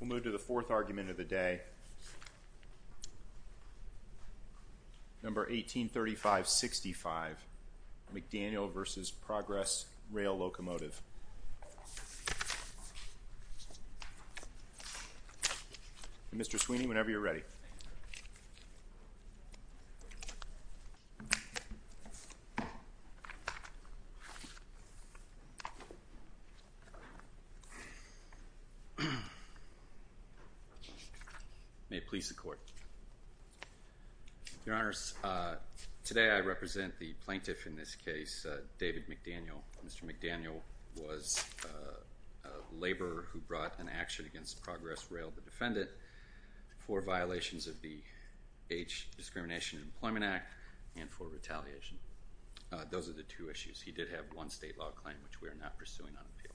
We'll move to the fourth argument of the day. Number 183565 McDaniel v. Progress Rail Locomotive. Mr. Sweeney, whenever you're ready. May it please the Court. Your Honors, today I represent the plaintiff in this case, David McDaniel. Mr. McDaniel was a laborer who brought an action against Progress Rail, the defendant, for violations of the Age Discrimination and Employment Act and for retaliation. Those are the two issues. He did have one state law claim, which we are not pursuing on appeal.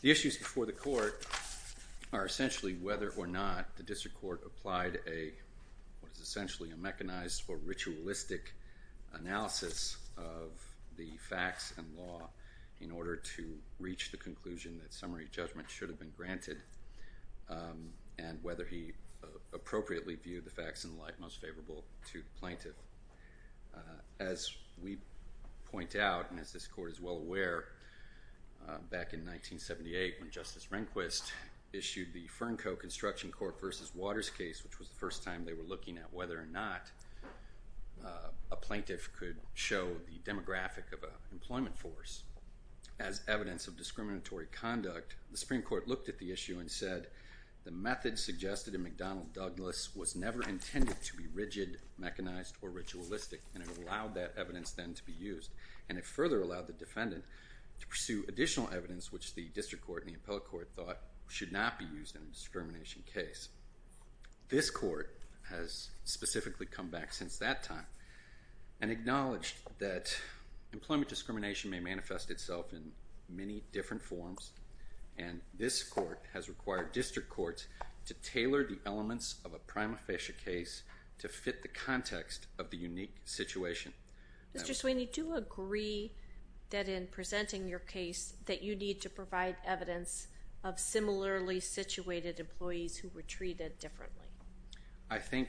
The issues before the Court are essentially whether or not the District Court applied a, what is essentially a mechanized or ritualistic analysis of the facts and law in order to reach the conclusion that summary judgment should have been granted and whether he appropriately viewed the facts in light most favorable to the plaintiff. As we point out, and as this Court is well aware, back in 1978 when Justice Rehnquist issued the Fernco Construction Corp. v. Waters case, which was the first time they were looking at whether or not a plaintiff could show the demographic of an employment force as evidence of discriminatory conduct, the Supreme Court looked at the issue and said the method suggested in McDaniel-Douglas was never intended to be rigid, mechanized, or ritualistic, and it allowed that evidence then to be used, and it further allowed the defendant to pursue additional evidence, which the District Court and the Appellate Court thought should not be used in a discrimination case. This Court has specifically come back since that time and acknowledged that employment discrimination may manifest itself in many different forms, and this Court has required District Courts to tailor the elements of a prima facie case to fit the context of the unique situation. Mr. Sweeney, do you agree that in presenting your case that you need to provide evidence of similarly situated employees who were treated differently? I think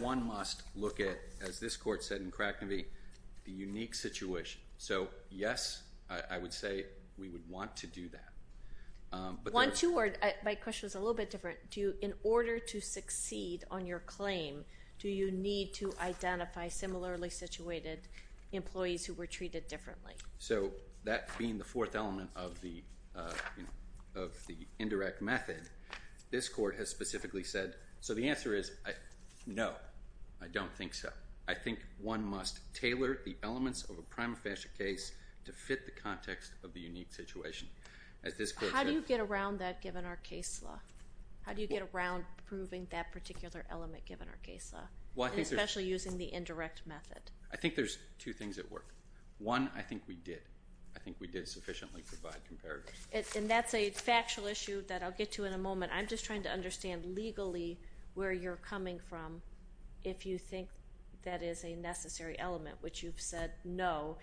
one must look at, as this Court said in Cracknevy, the unique situation. So, yes, I would say we would want to do that. My question was a little bit different. In order to succeed on your claim, do you need to identify similarly situated employees who were treated differently? So, that being the fourth element of the indirect method, this Court has specifically said, so the answer is no, I don't think so. I think one must tailor the elements of a prima facie case to fit the context of the unique situation. How do you get around that given our case law? How do you get around proving that particular element given our case law, especially using the indirect method? I think there's two things at work. One, I think we did. I think we did sufficiently provide comparison. And that's a factual issue that I'll get to in a moment. I'm just trying to understand legally where you're coming from if you think that is a necessary element, which you've said no.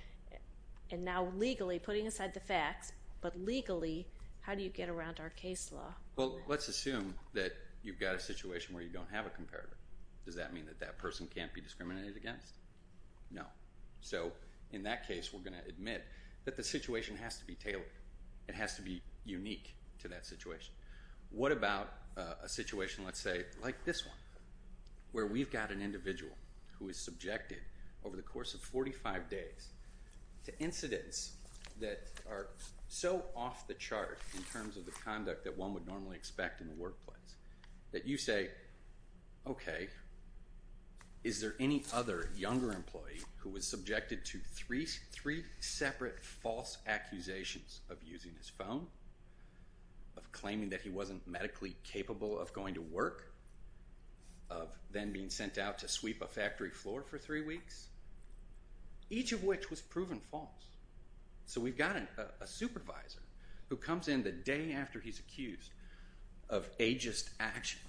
And now, legally, putting aside the facts, but legally, how do you get around our case law? Well, let's assume that you've got a situation where you don't have a comparator. Does that mean that that person can't be discriminated against? No. So, in that case, we're going to admit that the situation has to be tailored. It has to be unique to that situation. What about a situation, let's say, like this one, where we've got an individual who is subjected over the course of 45 days to incidents that are so off the chart in terms of the conduct that one would normally expect in the workplace that you say, okay, is there any other younger employee who was subjected to three separate false accusations of using his phone, of claiming that he wasn't medically capable of going to work, of then being sent out to sweep a factory floor for three weeks? Each of which was proven false. So we've got a supervisor who comes in the day after he's accused of ageist action.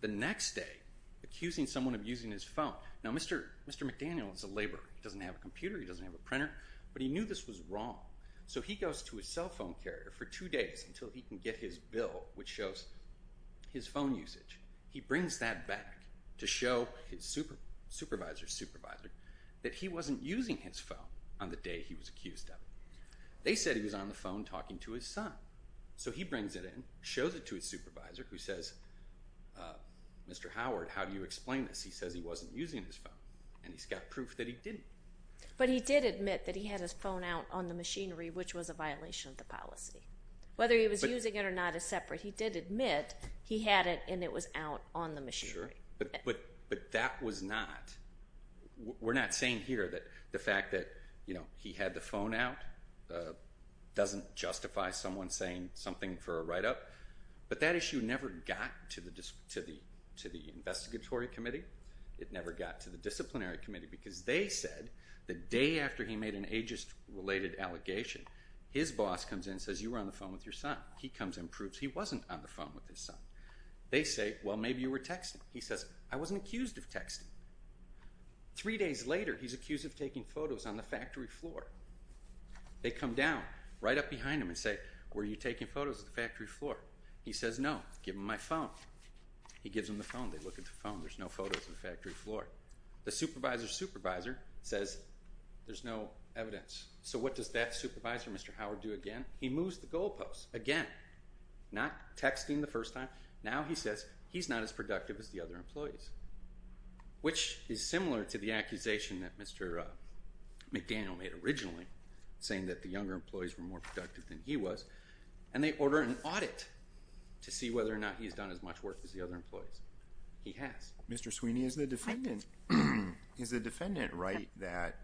The next day, accusing someone of using his phone. Now, Mr. McDaniel is a laborer. He doesn't have a computer. He doesn't have a printer. But he knew this was wrong. So he goes to his cell phone carrier for two days until he can get his bill, which shows his phone usage. He brings that back to show his supervisor's supervisor that he wasn't using his phone on the day he was accused of it. They said he was on the phone talking to his son. So he brings it in, shows it to his supervisor, who says, Mr. Howard, how do you explain this? He says he wasn't using his phone. And he's got proof that he didn't. But he did admit that he had his phone out on the machinery, which was a violation of the policy. Whether he was using it or not is separate. He did admit he had it and it was out on the machinery. But that was not, we're not saying here that the fact that he had the phone out doesn't justify someone saying something for a write-up. But that issue never got to the Investigatory Committee. It never got to the Disciplinary Committee because they said the day after he made an ageist-related allegation, his boss comes in and says, you were on the phone with your son. He comes in and proves he wasn't on the phone with his son. They say, well, maybe you were texting. He says, I wasn't accused of texting. Three days later, he's accused of taking photos on the factory floor. They come down right up behind him and say, were you taking photos of the factory floor? He says, no. Give him my phone. He gives him the phone. They look at the phone. There's no photos of the factory floor. The supervisor's supervisor says there's no evidence. So what does that supervisor, Mr. Howard, do again? He moves the goalposts again, not texting the first time. Now he says he's not as productive as the other employees, which is similar to the accusation that Mr. McDaniel made originally, saying that the younger employees were more productive than he was, and they order an audit to see whether or not he's done as much work as the other employees. He has. Mr. Sweeney, is the defendant right that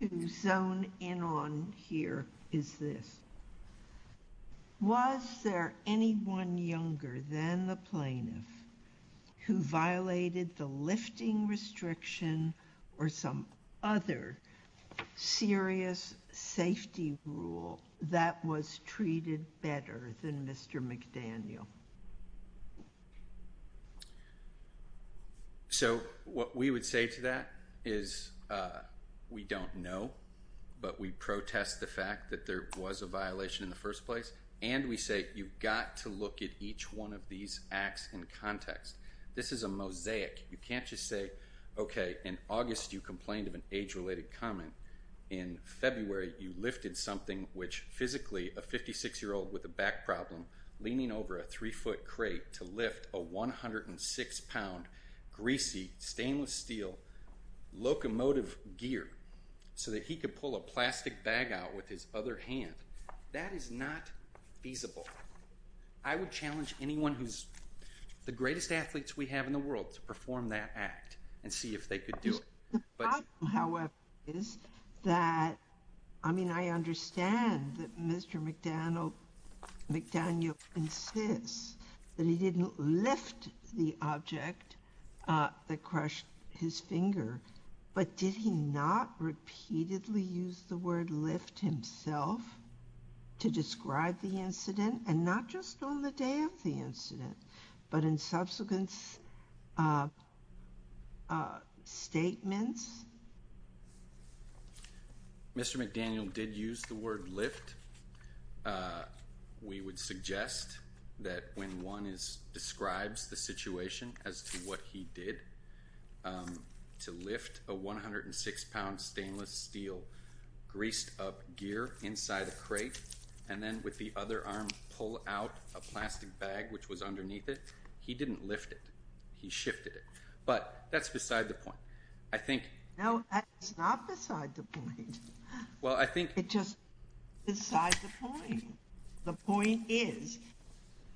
The zone in on here is this. Was there anyone younger than the plaintiff who violated the lifting restriction or some other serious safety rule that was treated better than Mr. McDaniel? So what we would say to that is we don't know, but we protest the fact that there was a violation in the first place. And we say you've got to look at each one of these acts in context. This is a mosaic. You can't just say, okay, in August you complained of an age-related comment. In February you lifted something which physically a 56-year-old with a back problem leaning over a three-foot crate to lift a 106-pound greasy stainless steel locomotive gear so that he could pull a plastic bag out with his other hand. That is not feasible. I would challenge anyone who's the greatest athletes we have in the world to perform that act and see if they could do it. The problem, however, is that, I mean, I understand that Mr. McDaniel insists that he didn't lift the object that crushed his finger, but did he not repeatedly use the word lift himself to describe the incident? And not just on the day of the incident, but in subsequent statements? Mr. McDaniel did use the word lift. We would suggest that when one describes the situation as to what he did, to lift a 106-pound stainless steel greased-up gear inside the crate and then with the other arm pull out a plastic bag which was underneath it, he didn't lift it. He shifted it. But that's beside the point. I think— No, that's not beside the point. Well, I think— It's just beside the point. The point is,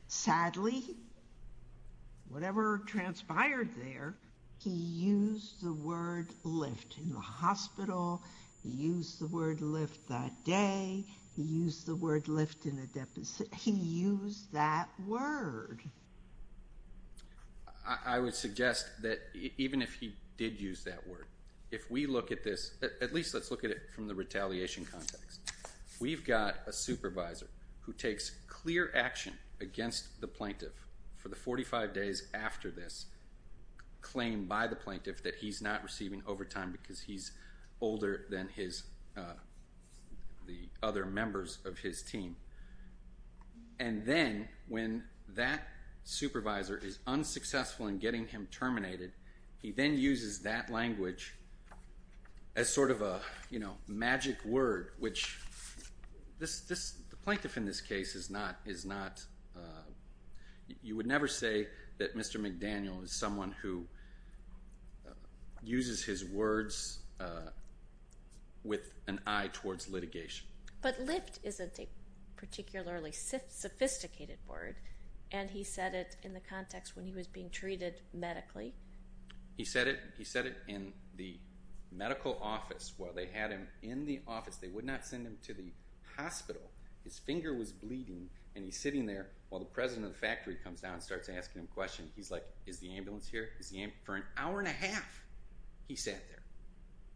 sadly, whatever transpired there, he used the word lift in the hospital. He used the word lift that day. He used the word lift in a depository. He used that word. I would suggest that even if he did use that word, if we look at this, at least let's look at it from the retaliation context. We've got a supervisor who takes clear action against the plaintiff for the 45 days after this claim by the plaintiff that he's not receiving overtime because he's older than the other members of his team. And then when that supervisor is unsuccessful in getting him terminated, he then uses that language as sort of a magic word, which the plaintiff in this case is not. You would never say that Mr. McDaniel is someone who uses his words with an eye towards litigation. But lift isn't a particularly sophisticated word, and he said it in the context when he was being treated medically. He said it in the medical office while they had him in the office. They would not send him to the hospital. His finger was bleeding, and he's sitting there while the president of the factory comes down and starts asking him questions. He's like, is the ambulance here? For an hour and a half he sat there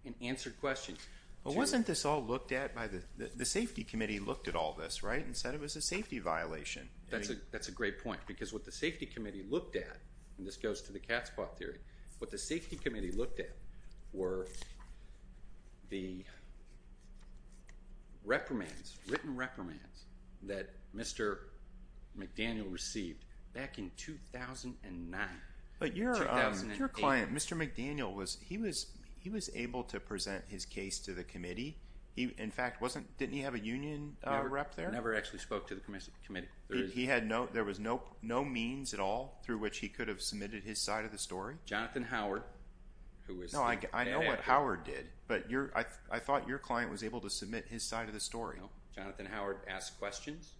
and answered questions. Wasn't this all looked at by the safety committee looked at all this, right, and said it was a safety violation? That's a great point because what the safety committee looked at, and this goes to the cat spot theory, what the safety committee looked at were the reprimands, written reprimands that Mr. McDaniel received back in 2009. But your client, Mr. McDaniel, he was able to present his case to the committee. In fact, didn't he have a union rep there? He never actually spoke to the committee. There was no means at all through which he could have submitted his side of the story? Jonathan Howard. I know what Howard did, but I thought your client was able to submit his side of the story. Jonathan Howard asked questions.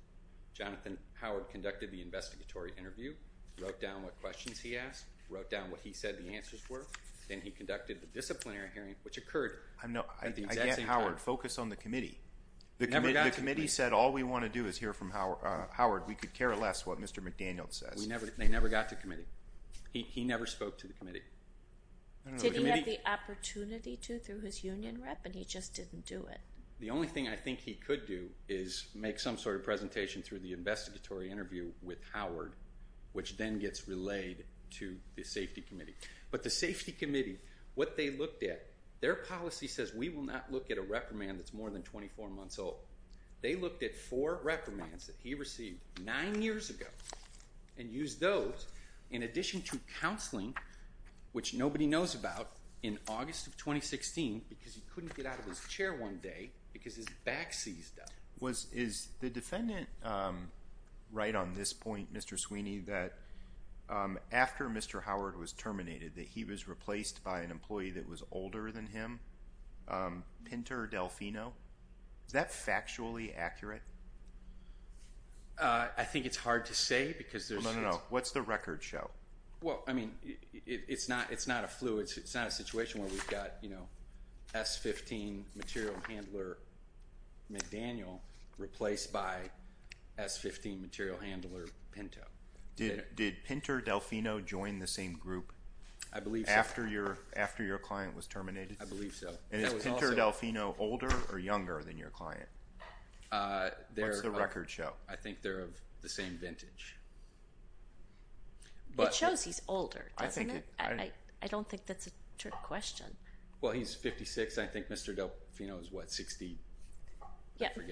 Jonathan Howard conducted the investigatory interview, wrote down what questions he asked, wrote down what he said the answers were, and he conducted the disciplinary hearing, which occurred at the exact same time. I get Howard. Focus on the committee. The committee said all we want to do is hear from Howard. We could care less what Mr. McDaniel says. They never got to the committee. He never spoke to the committee. Did he have the opportunity to through his union rep? But he just didn't do it. The only thing I think he could do is make some sort of presentation through the investigatory interview with Howard, which then gets relayed to the safety committee. But the safety committee, what they looked at, their policy says we will not look at a reprimand that's more than 24 months old. They looked at four reprimands that he received nine years ago and used those in addition to counseling, which nobody knows about, in August of 2016 because he couldn't get out of his chair one day because his back seized up. Is the defendant right on this point, Mr. Sweeney, that after Mr. Howard was terminated, that he was replaced by an employee that was older than him, Pinto or Delfino? Is that factually accurate? I think it's hard to say. No, no, no. What's the record show? Well, I mean, it's not a flu. It's not a situation where we've got, you know, S-15 material handler McDaniel replaced by S-15 material handler Pinto. Did Pinto or Delfino join the same group after your client was terminated? I believe so. And is Pinto or Delfino older or younger than your client? What's the record show? I think they're of the same vintage. It shows he's older, doesn't it? I don't think that's a true question. Well, he's 56. I think Mr. Delfino is, what, 60?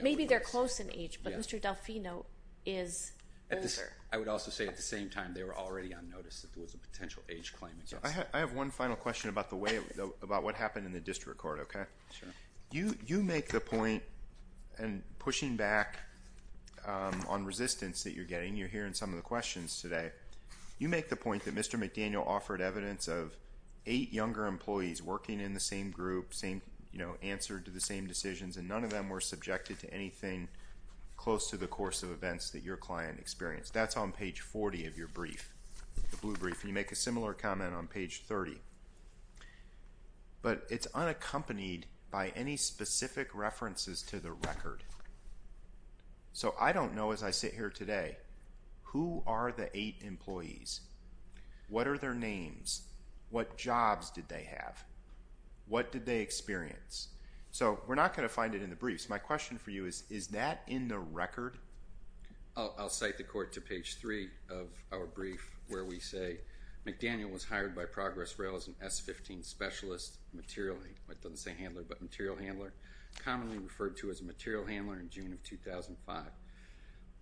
Maybe they're close in age, but Mr. Delfino is older. I would also say, at the same time, they were already on notice that there was a potential age claim. I have one final question about what happened in the district court, okay? Sure. You make the point, and pushing back on resistance that you're getting, you're hearing some of the questions today. You make the point that Mr. McDaniel offered evidence of eight younger employees working in the same group, answered to the same decisions, and none of them were subjected to anything close to the course of events that your client experienced. That's on page 40 of your brief, the blue brief. You make a similar comment on page 30. But it's unaccompanied by any specific references to the record. So I don't know, as I sit here today, who are the eight employees? What are their names? What jobs did they have? What did they experience? So we're not going to find it in the briefs. My question for you is, is that in the record? I'll cite the court to page 3 of our brief where we say, McDaniel was hired by Progress Rail as an S-15 specialist material, it doesn't say handler, but material handler, commonly referred to as a material handler in June of 2005.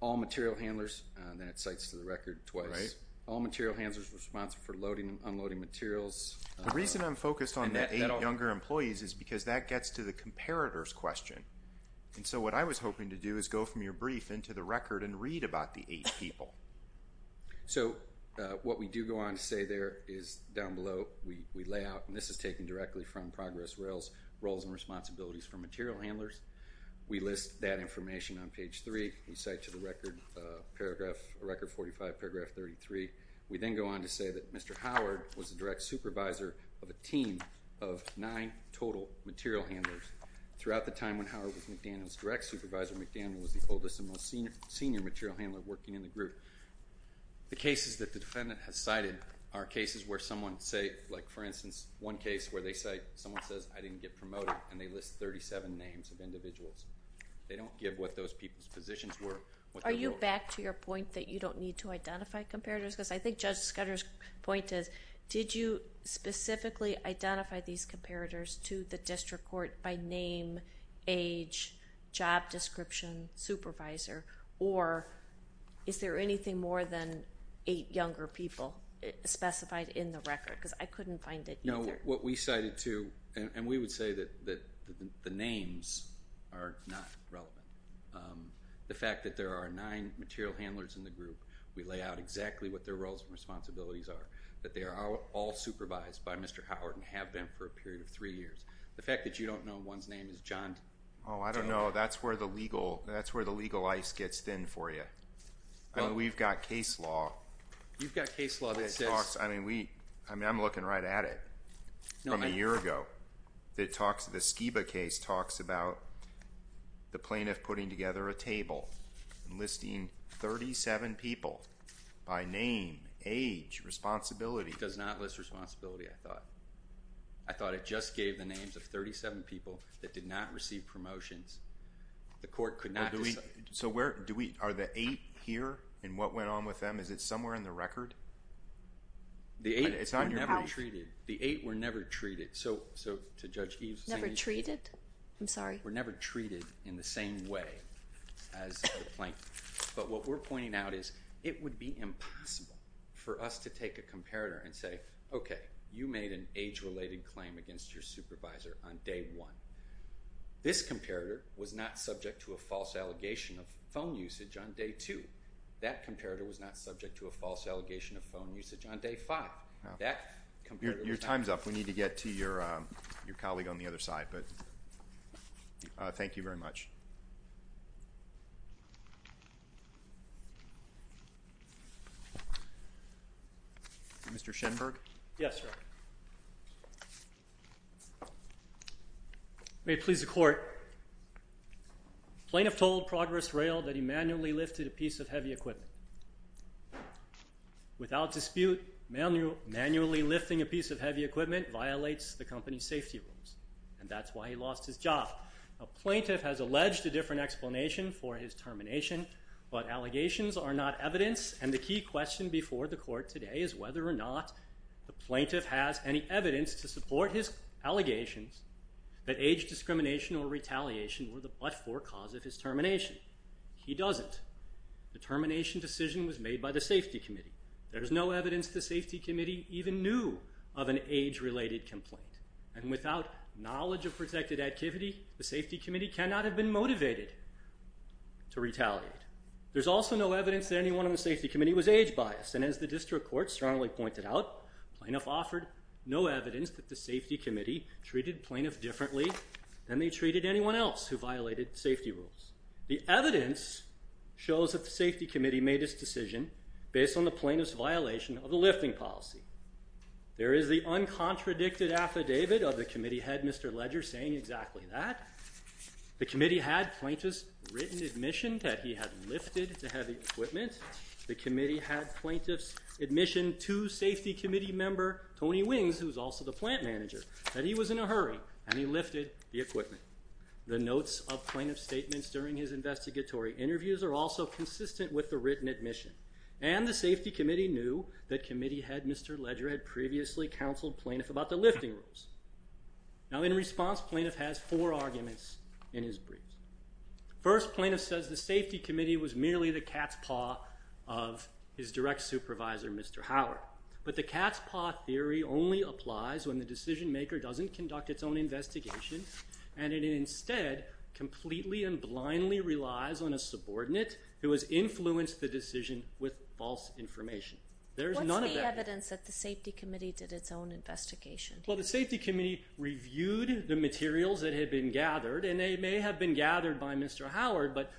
All material handlers, and that cites the record twice, all material handlers responsible for unloading materials. The reason I'm focused on the eight younger employees is because that gets to the comparator's question. And so what I was hoping to do is go from your brief into the record and read about the eight people. So what we do go on to say there is down below, we lay out, and this is taken directly from Progress Rail's roles and responsibilities for material handlers. We list that information on page 3. We cite to the record paragraph 45, paragraph 33. We then go on to say that Mr. Howard was the direct supervisor of a team of nine total material handlers. Throughout the time when Howard was McDaniel's direct supervisor, McDaniel was the oldest and most senior material handler working in the group. The cases that the defendant has cited are cases where someone, say, like for instance, one case where someone says, I didn't get promoted and they list 37 names of individuals. They don't give what those people's positions were. Are you back to your point that you don't need to identify comparators? Because I think Judge Scudder's point is, did you specifically identify these comparators to the district court by name, age, job description, supervisor, or is there anything more than eight younger people specified in the record? Because I couldn't find it either. No, what we cited too, and we would say that the names are not relevant. The fact that there are nine material handlers in the group, we lay out exactly what their roles and responsibilities are, that they are all supervised by Mr. Howard and have been for a period of three years. The fact that you don't know one's name is John. Oh, I don't know. That's where the legal ice gets thin for you. We've got case law. You've got case law that says. I mean, I'm looking right at it from a year ago. The Skiba case talks about the plaintiff putting together a table and listing 37 people by name, age, responsibility. It does not list responsibility, I thought. I thought it just gave the names of 37 people that did not receive promotions. The court could not decide. So are the eight here and what went on with them? Is it somewhere in the record? The eight were never treated. The eight were never treated. So to Judge Eaves, Never treated? I'm sorry. The eight were never treated in the same way as the plaintiff. But what we're pointing out is it would be impossible for us to take a comparator and say, okay, you made an age-related claim against your supervisor on day one. This comparator was not subject to a false allegation of phone usage on day two. That comparator was not subject to a false allegation of phone usage on day five. Your time's up. We need to get to your colleague on the other side. Thank you very much. Mr. Schenberg? Yes, sir. May it please the court, Plaintiff told Progress Rail that he manually lifted a piece of heavy equipment. Without dispute, manually lifting a piece of heavy equipment violates the company's safety rules, and that's why he lost his job. A plaintiff has alleged a different explanation for his termination, but allegations are not evidence, and the key question before the court today is whether or not the plaintiff has any evidence to support his allegations that age discrimination or retaliation were the but-for cause of his termination. He doesn't. The termination decision was made by the safety committee. There is no evidence the safety committee even knew of an age-related complaint, and without knowledge of protected activity, the safety committee cannot have been motivated to retaliate. There's also no evidence that anyone on the safety committee was age-biased, and as the district court strongly pointed out, plaintiff offered no evidence that the safety committee treated plaintiff differently than they treated anyone else who violated safety rules. The evidence shows that the safety committee made its decision based on the plaintiff's violation of the lifting policy. There is the uncontradicted affidavit of the committee head, Mr. Ledger, saying exactly that. The committee had plaintiffs' written admission that he had lifted the heavy equipment. The committee had plaintiffs' admission to safety committee member, Tony Wings, who's also the plant manager, that he was in a hurry and he lifted the equipment. The notes of plaintiff's statements during his investigatory interviews are also consistent with the written admission, and the safety committee knew that committee head, Mr. Ledger, had previously counseled plaintiff about the lifting rules. Now, in response, plaintiff has four arguments in his briefs. First, plaintiff says the safety committee was merely the cat's paw of his direct supervisor, Mr. Howard, but the cat's paw theory only applies when the decision maker doesn't conduct its own investigation and it instead completely and blindly relies on a subordinate who has influenced the decision with false information. There's none of that. What's the evidence that the safety committee did its own investigation? Well, the safety committee reviewed the materials that had been gathered, and they may have been gathered by Mr. Howard, but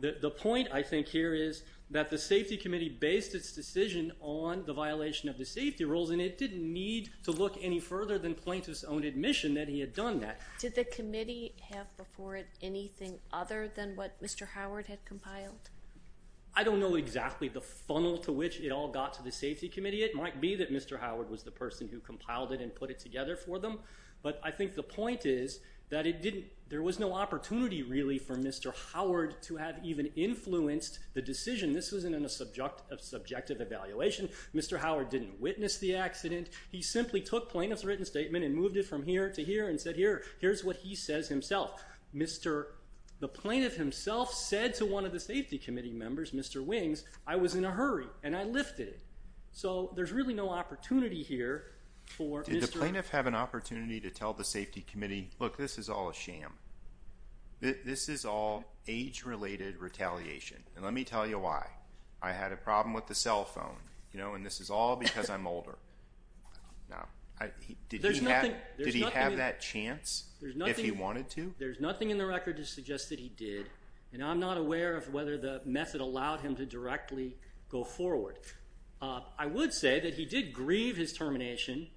the point, I think, here is that the safety committee based its decision on the violation of the safety rules, and it didn't need to look any further than plaintiff's own admission that he had done that. Did the committee have before it anything other than what Mr. Howard had compiled? I don't know exactly the funnel to which it all got to the safety committee. It might be that Mr. Howard was the person who compiled it and put it together for them, but I think the point is that there was no opportunity, really, for Mr. Howard to have even influenced the decision. This wasn't in a subjective evaluation. Mr. Howard didn't witness the accident. He simply took plaintiff's written statement and moved it from here to here and said, here's what he says himself. The plaintiff himself said to one of the safety committee members, Mr. Wings, I was in a hurry, and I lifted it. So there's really no opportunity here for Mr. Did the plaintiff have an opportunity to tell the safety committee, look, this is all a sham? This is all age-related retaliation, and let me tell you why. I had a problem with the cell phone, and this is all because I'm older. Did he have that chance if he wanted to? There's nothing in the record to suggest that he did, and I'm not aware of whether the method allowed him to directly go forward. I would say that he did grieve his termination,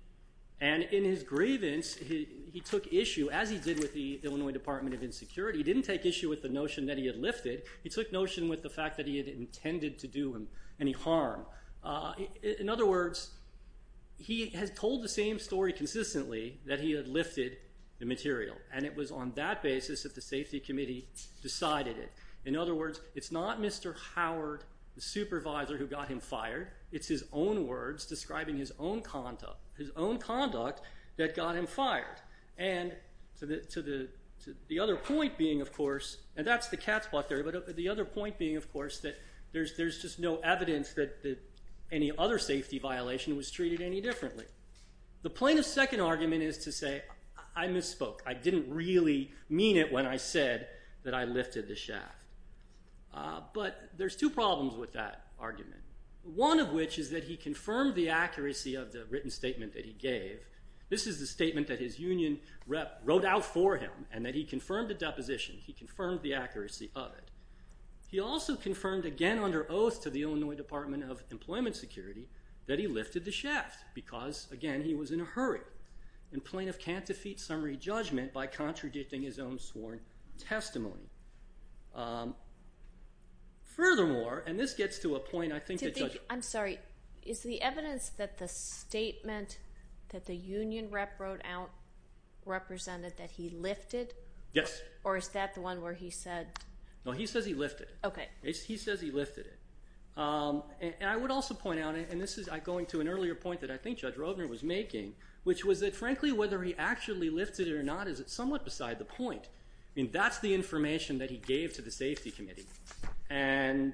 and in his grievance, he took issue, as he did with the Illinois Department of Insecurity, he didn't take issue with the notion that he had lifted. He took notion with the fact that he had intended to do him any harm. In other words, he has told the same story consistently that he had lifted the material, and it was on that basis that the safety committee decided it. In other words, it's not Mr. Howard, the supervisor, who got him fired. It's his own words describing his own conduct that got him fired. And to the other point being, of course, and that's the cat's paw theory, but the other point being, of course, that there's just no evidence that any other safety violation was treated any differently. The plaintiff's second argument is to say, I misspoke. I didn't really mean it when I said that I lifted the shaft. But there's two problems with that argument, one of which is that he confirmed the accuracy of the written statement that he gave. This is the statement that his union rep wrote out for him and that he confirmed the deposition. He confirmed the accuracy of it. He also confirmed, again under oath to the Illinois Department of Employment Security, that he lifted the shaft because, again, he was in a hurry. And plaintiff can't defeat summary judgment by contradicting his own sworn testimony. Furthermore, and this gets to a point I think that judge- I'm sorry. Is the evidence that the statement that the union rep wrote out represented that he lifted? Yes. Or is that the one where he said- No, he says he lifted it. Okay. He says he lifted it. And I would also point out, and this is going to an earlier point that I think Judge Rovner was making, which was that, frankly, whether he actually lifted it or not is somewhat beside the point. That's the information that he gave to the safety committee. And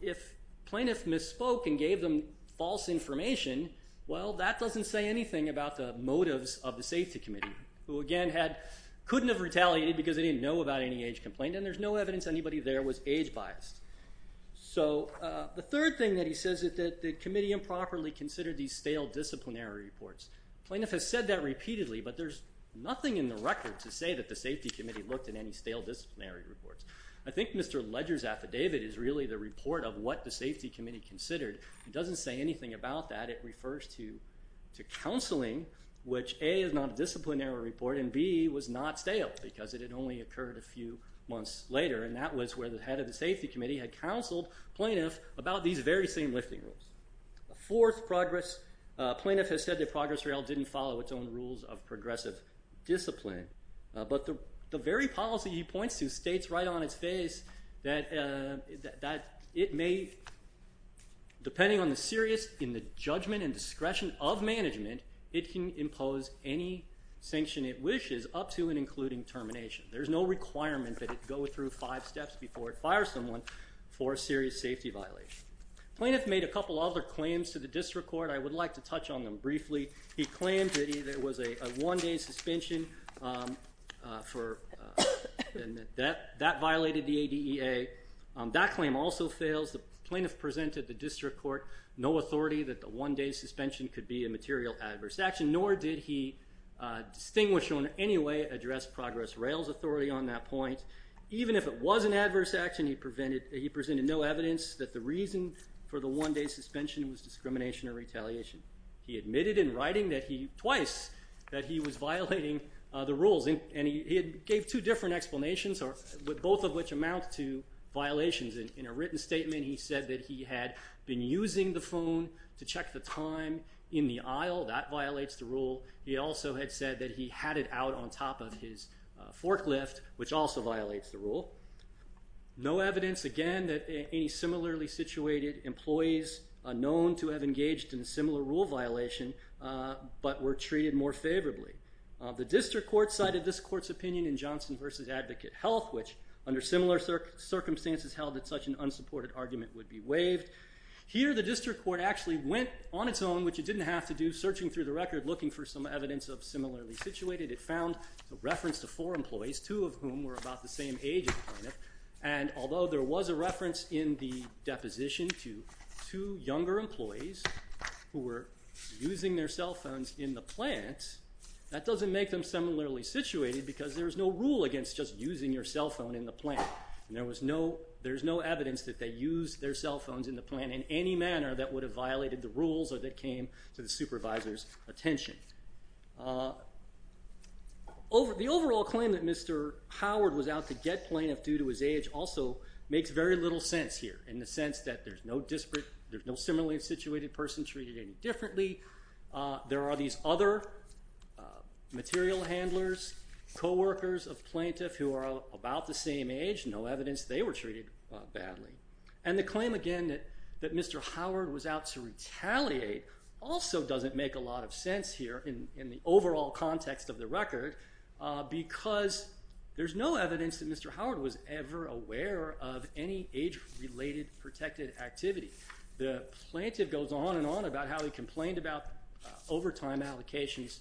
if plaintiff misspoke and gave them false information, well, that doesn't say anything about the motives of the safety committee, who, again, couldn't have retaliated because they didn't know about any age complaint and there's no evidence anybody there was age biased. So the third thing that he says is that the committee improperly considered these stale disciplinary reports. Plaintiff has said that repeatedly, but there's nothing in the record to say that the safety committee looked at any stale disciplinary reports. I think Mr. Ledger's affidavit is really the report of what the safety committee considered. It doesn't say anything about that. It refers to counseling, which, A, is not a disciplinary report, and, B, was not stale because it had only occurred a few months later, and that was where the head of the safety committee had counseled plaintiff about these very same lifting rules. The fourth progress, plaintiff has said the progress rail didn't follow its own rules of progressive discipline. But the very policy he points to states right on its face that it may, depending on the seriousness in the judgment and discretion of management, it can impose any sanction it wishes up to and including termination. There's no requirement that it go through five steps before it fires someone for a serious safety violation. Plaintiff made a couple other claims to the district court. I would like to touch on them briefly. He claimed that it was a one-day suspension, and that that violated the ADEA. That claim also fails. The plaintiff presented the district court no authority that the one-day suspension could be a material adverse action, nor did he distinguish or in any way address progress rail's authority on that point. Even if it was an adverse action, he presented no evidence that the reason for the one-day suspension was discrimination or retaliation. He admitted in writing twice that he was violating the rules, and he gave two different explanations, both of which amount to violations. In a written statement, he said that he had been using the phone to check the time in the aisle. That violates the rule. He also had said that he had it out on top of his forklift, which also violates the rule. No evidence, again, that any similarly situated employees are known to have engaged in a similar rule violation, but were treated more favorably. The district court cited this court's opinion in Johnson v. Advocate Health, which under similar circumstances held that such an unsupported argument would be waived. Here, the district court actually went on its own, which it didn't have to do, searching through the record, looking for some evidence of similarly situated. It found a reference to four employees, two of whom were about the same age as the plaintiff, and although there was a reference in the deposition to two younger employees who were using their cell phones in the plant, that doesn't make them similarly situated because there's no rule against just using your cell phone in the plant. There's no evidence that they used their cell phones in the plant in any manner that would have violated the rules or that came to the supervisor's attention. The overall claim that Mr. Howard was out to get plaintiff due to his age also makes very little sense here in the sense that there's no similarly situated person treated any differently. There are these other material handlers, co-workers of plaintiff who are about the same age. No evidence they were treated badly. And the claim, again, that Mr. Howard was out to retaliate also doesn't make a lot of sense here in the overall context of the record because there's no evidence that Mr. Howard was ever aware of any age-related protected activity. The plaintiff goes on and on about how he complained about overtime allocations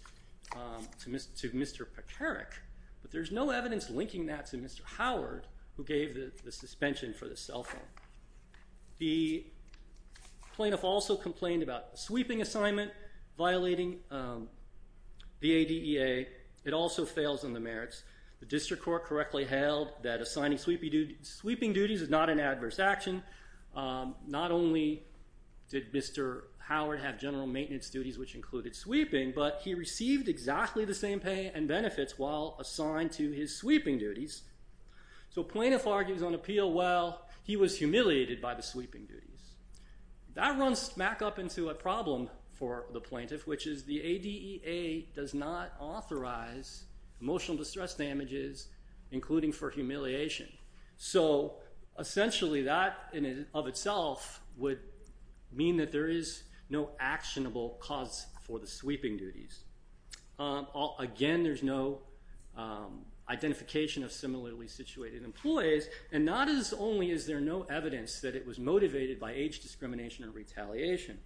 to Mr. Pekarik, but there's no evidence linking that to Mr. Howard who gave the suspension for the cell phone. The plaintiff also complained about sweeping assignment violating the ADEA. It also fails in the merits. The district court correctly held that assigning sweeping duties is not an adverse action. Not only did Mr. Howard have general maintenance duties, which included sweeping, but he received exactly the same pay and benefits while assigned to his sweeping duties. So plaintiff argues on appeal, well, he was humiliated by the sweeping duties. That runs back up into a problem for the plaintiff, which is the ADEA does not authorize emotional distress damages, including for humiliation. So essentially that in and of itself would mean that there is no actionable cause for the sweeping duties. Again, there's no identification of similarly situated employees, and not as only is there no evidence that it was motivated by age discrimination and retaliation.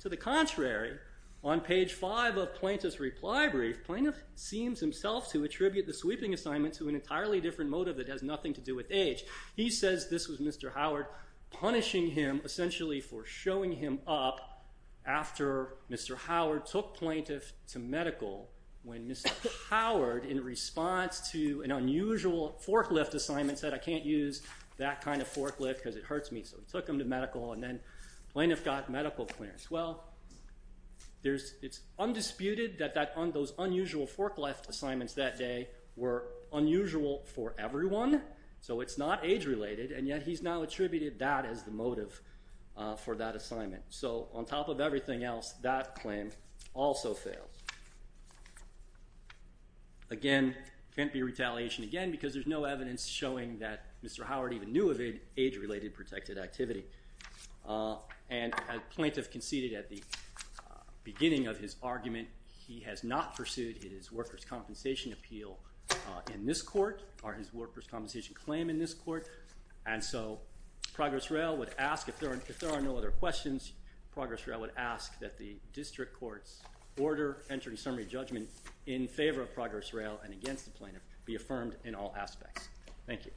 To the contrary, on page 5 of Plaintiff's reply brief, plaintiff seems himself to attribute the sweeping assignment to an entirely different motive that has nothing to do with age. He says this was Mr. Howard punishing him essentially for showing him up after Mr. Howard took plaintiff to medical when Mr. Howard, in response to an unusual forklift assignment, said, I can't use that kind of forklift because it hurts me. So he took him to medical, and then plaintiff got medical clearance. Well, it's undisputed that those unusual forklift assignments that day were unusual for everyone. So it's not age-related, and yet he's now attributed that as the motive for that assignment. So on top of everything else, that claim also fails. Again, can't be retaliation again because there's no evidence showing that Mr. Howard even knew of age-related protected activity. And as plaintiff conceded at the beginning of his argument, he has not pursued his workers' compensation appeal in this court or his workers' compensation claim in this court. And so Progress Rail would ask, if there are no other questions, Progress Rail would ask that the district court's order entering summary judgment in favor of Progress Rail and against the plaintiff be affirmed in all aspects. Thank you.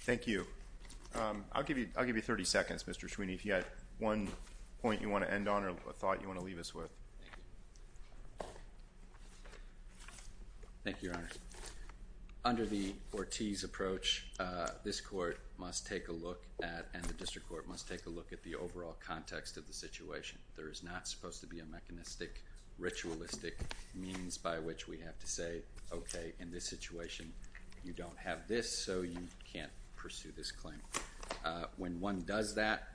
Thank you. I'll give you 30 seconds, Mr. Schweeney, if you had one point you want to end on or a thought you want to leave us with. Thank you, Your Honor. Under the Ortiz approach, this court must take a look at and the district court must take a look at the overall context of the situation. There is not supposed to be a mechanistic, ritualistic means by which we have to say, okay, in this situation you don't have this, so you can't pursue this claim. When one does that,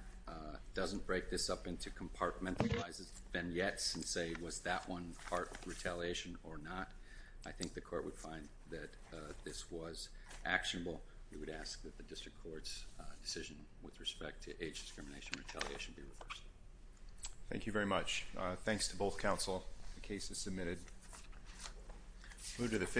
doesn't break this up into compartmentalized vignettes and say, was that one part of retaliation or not? I think the court would find that this was actionable. We would ask that the district court's decision with respect to age discrimination retaliation be reversed. Thank you very much. Thanks to both counsel. The case is submitted.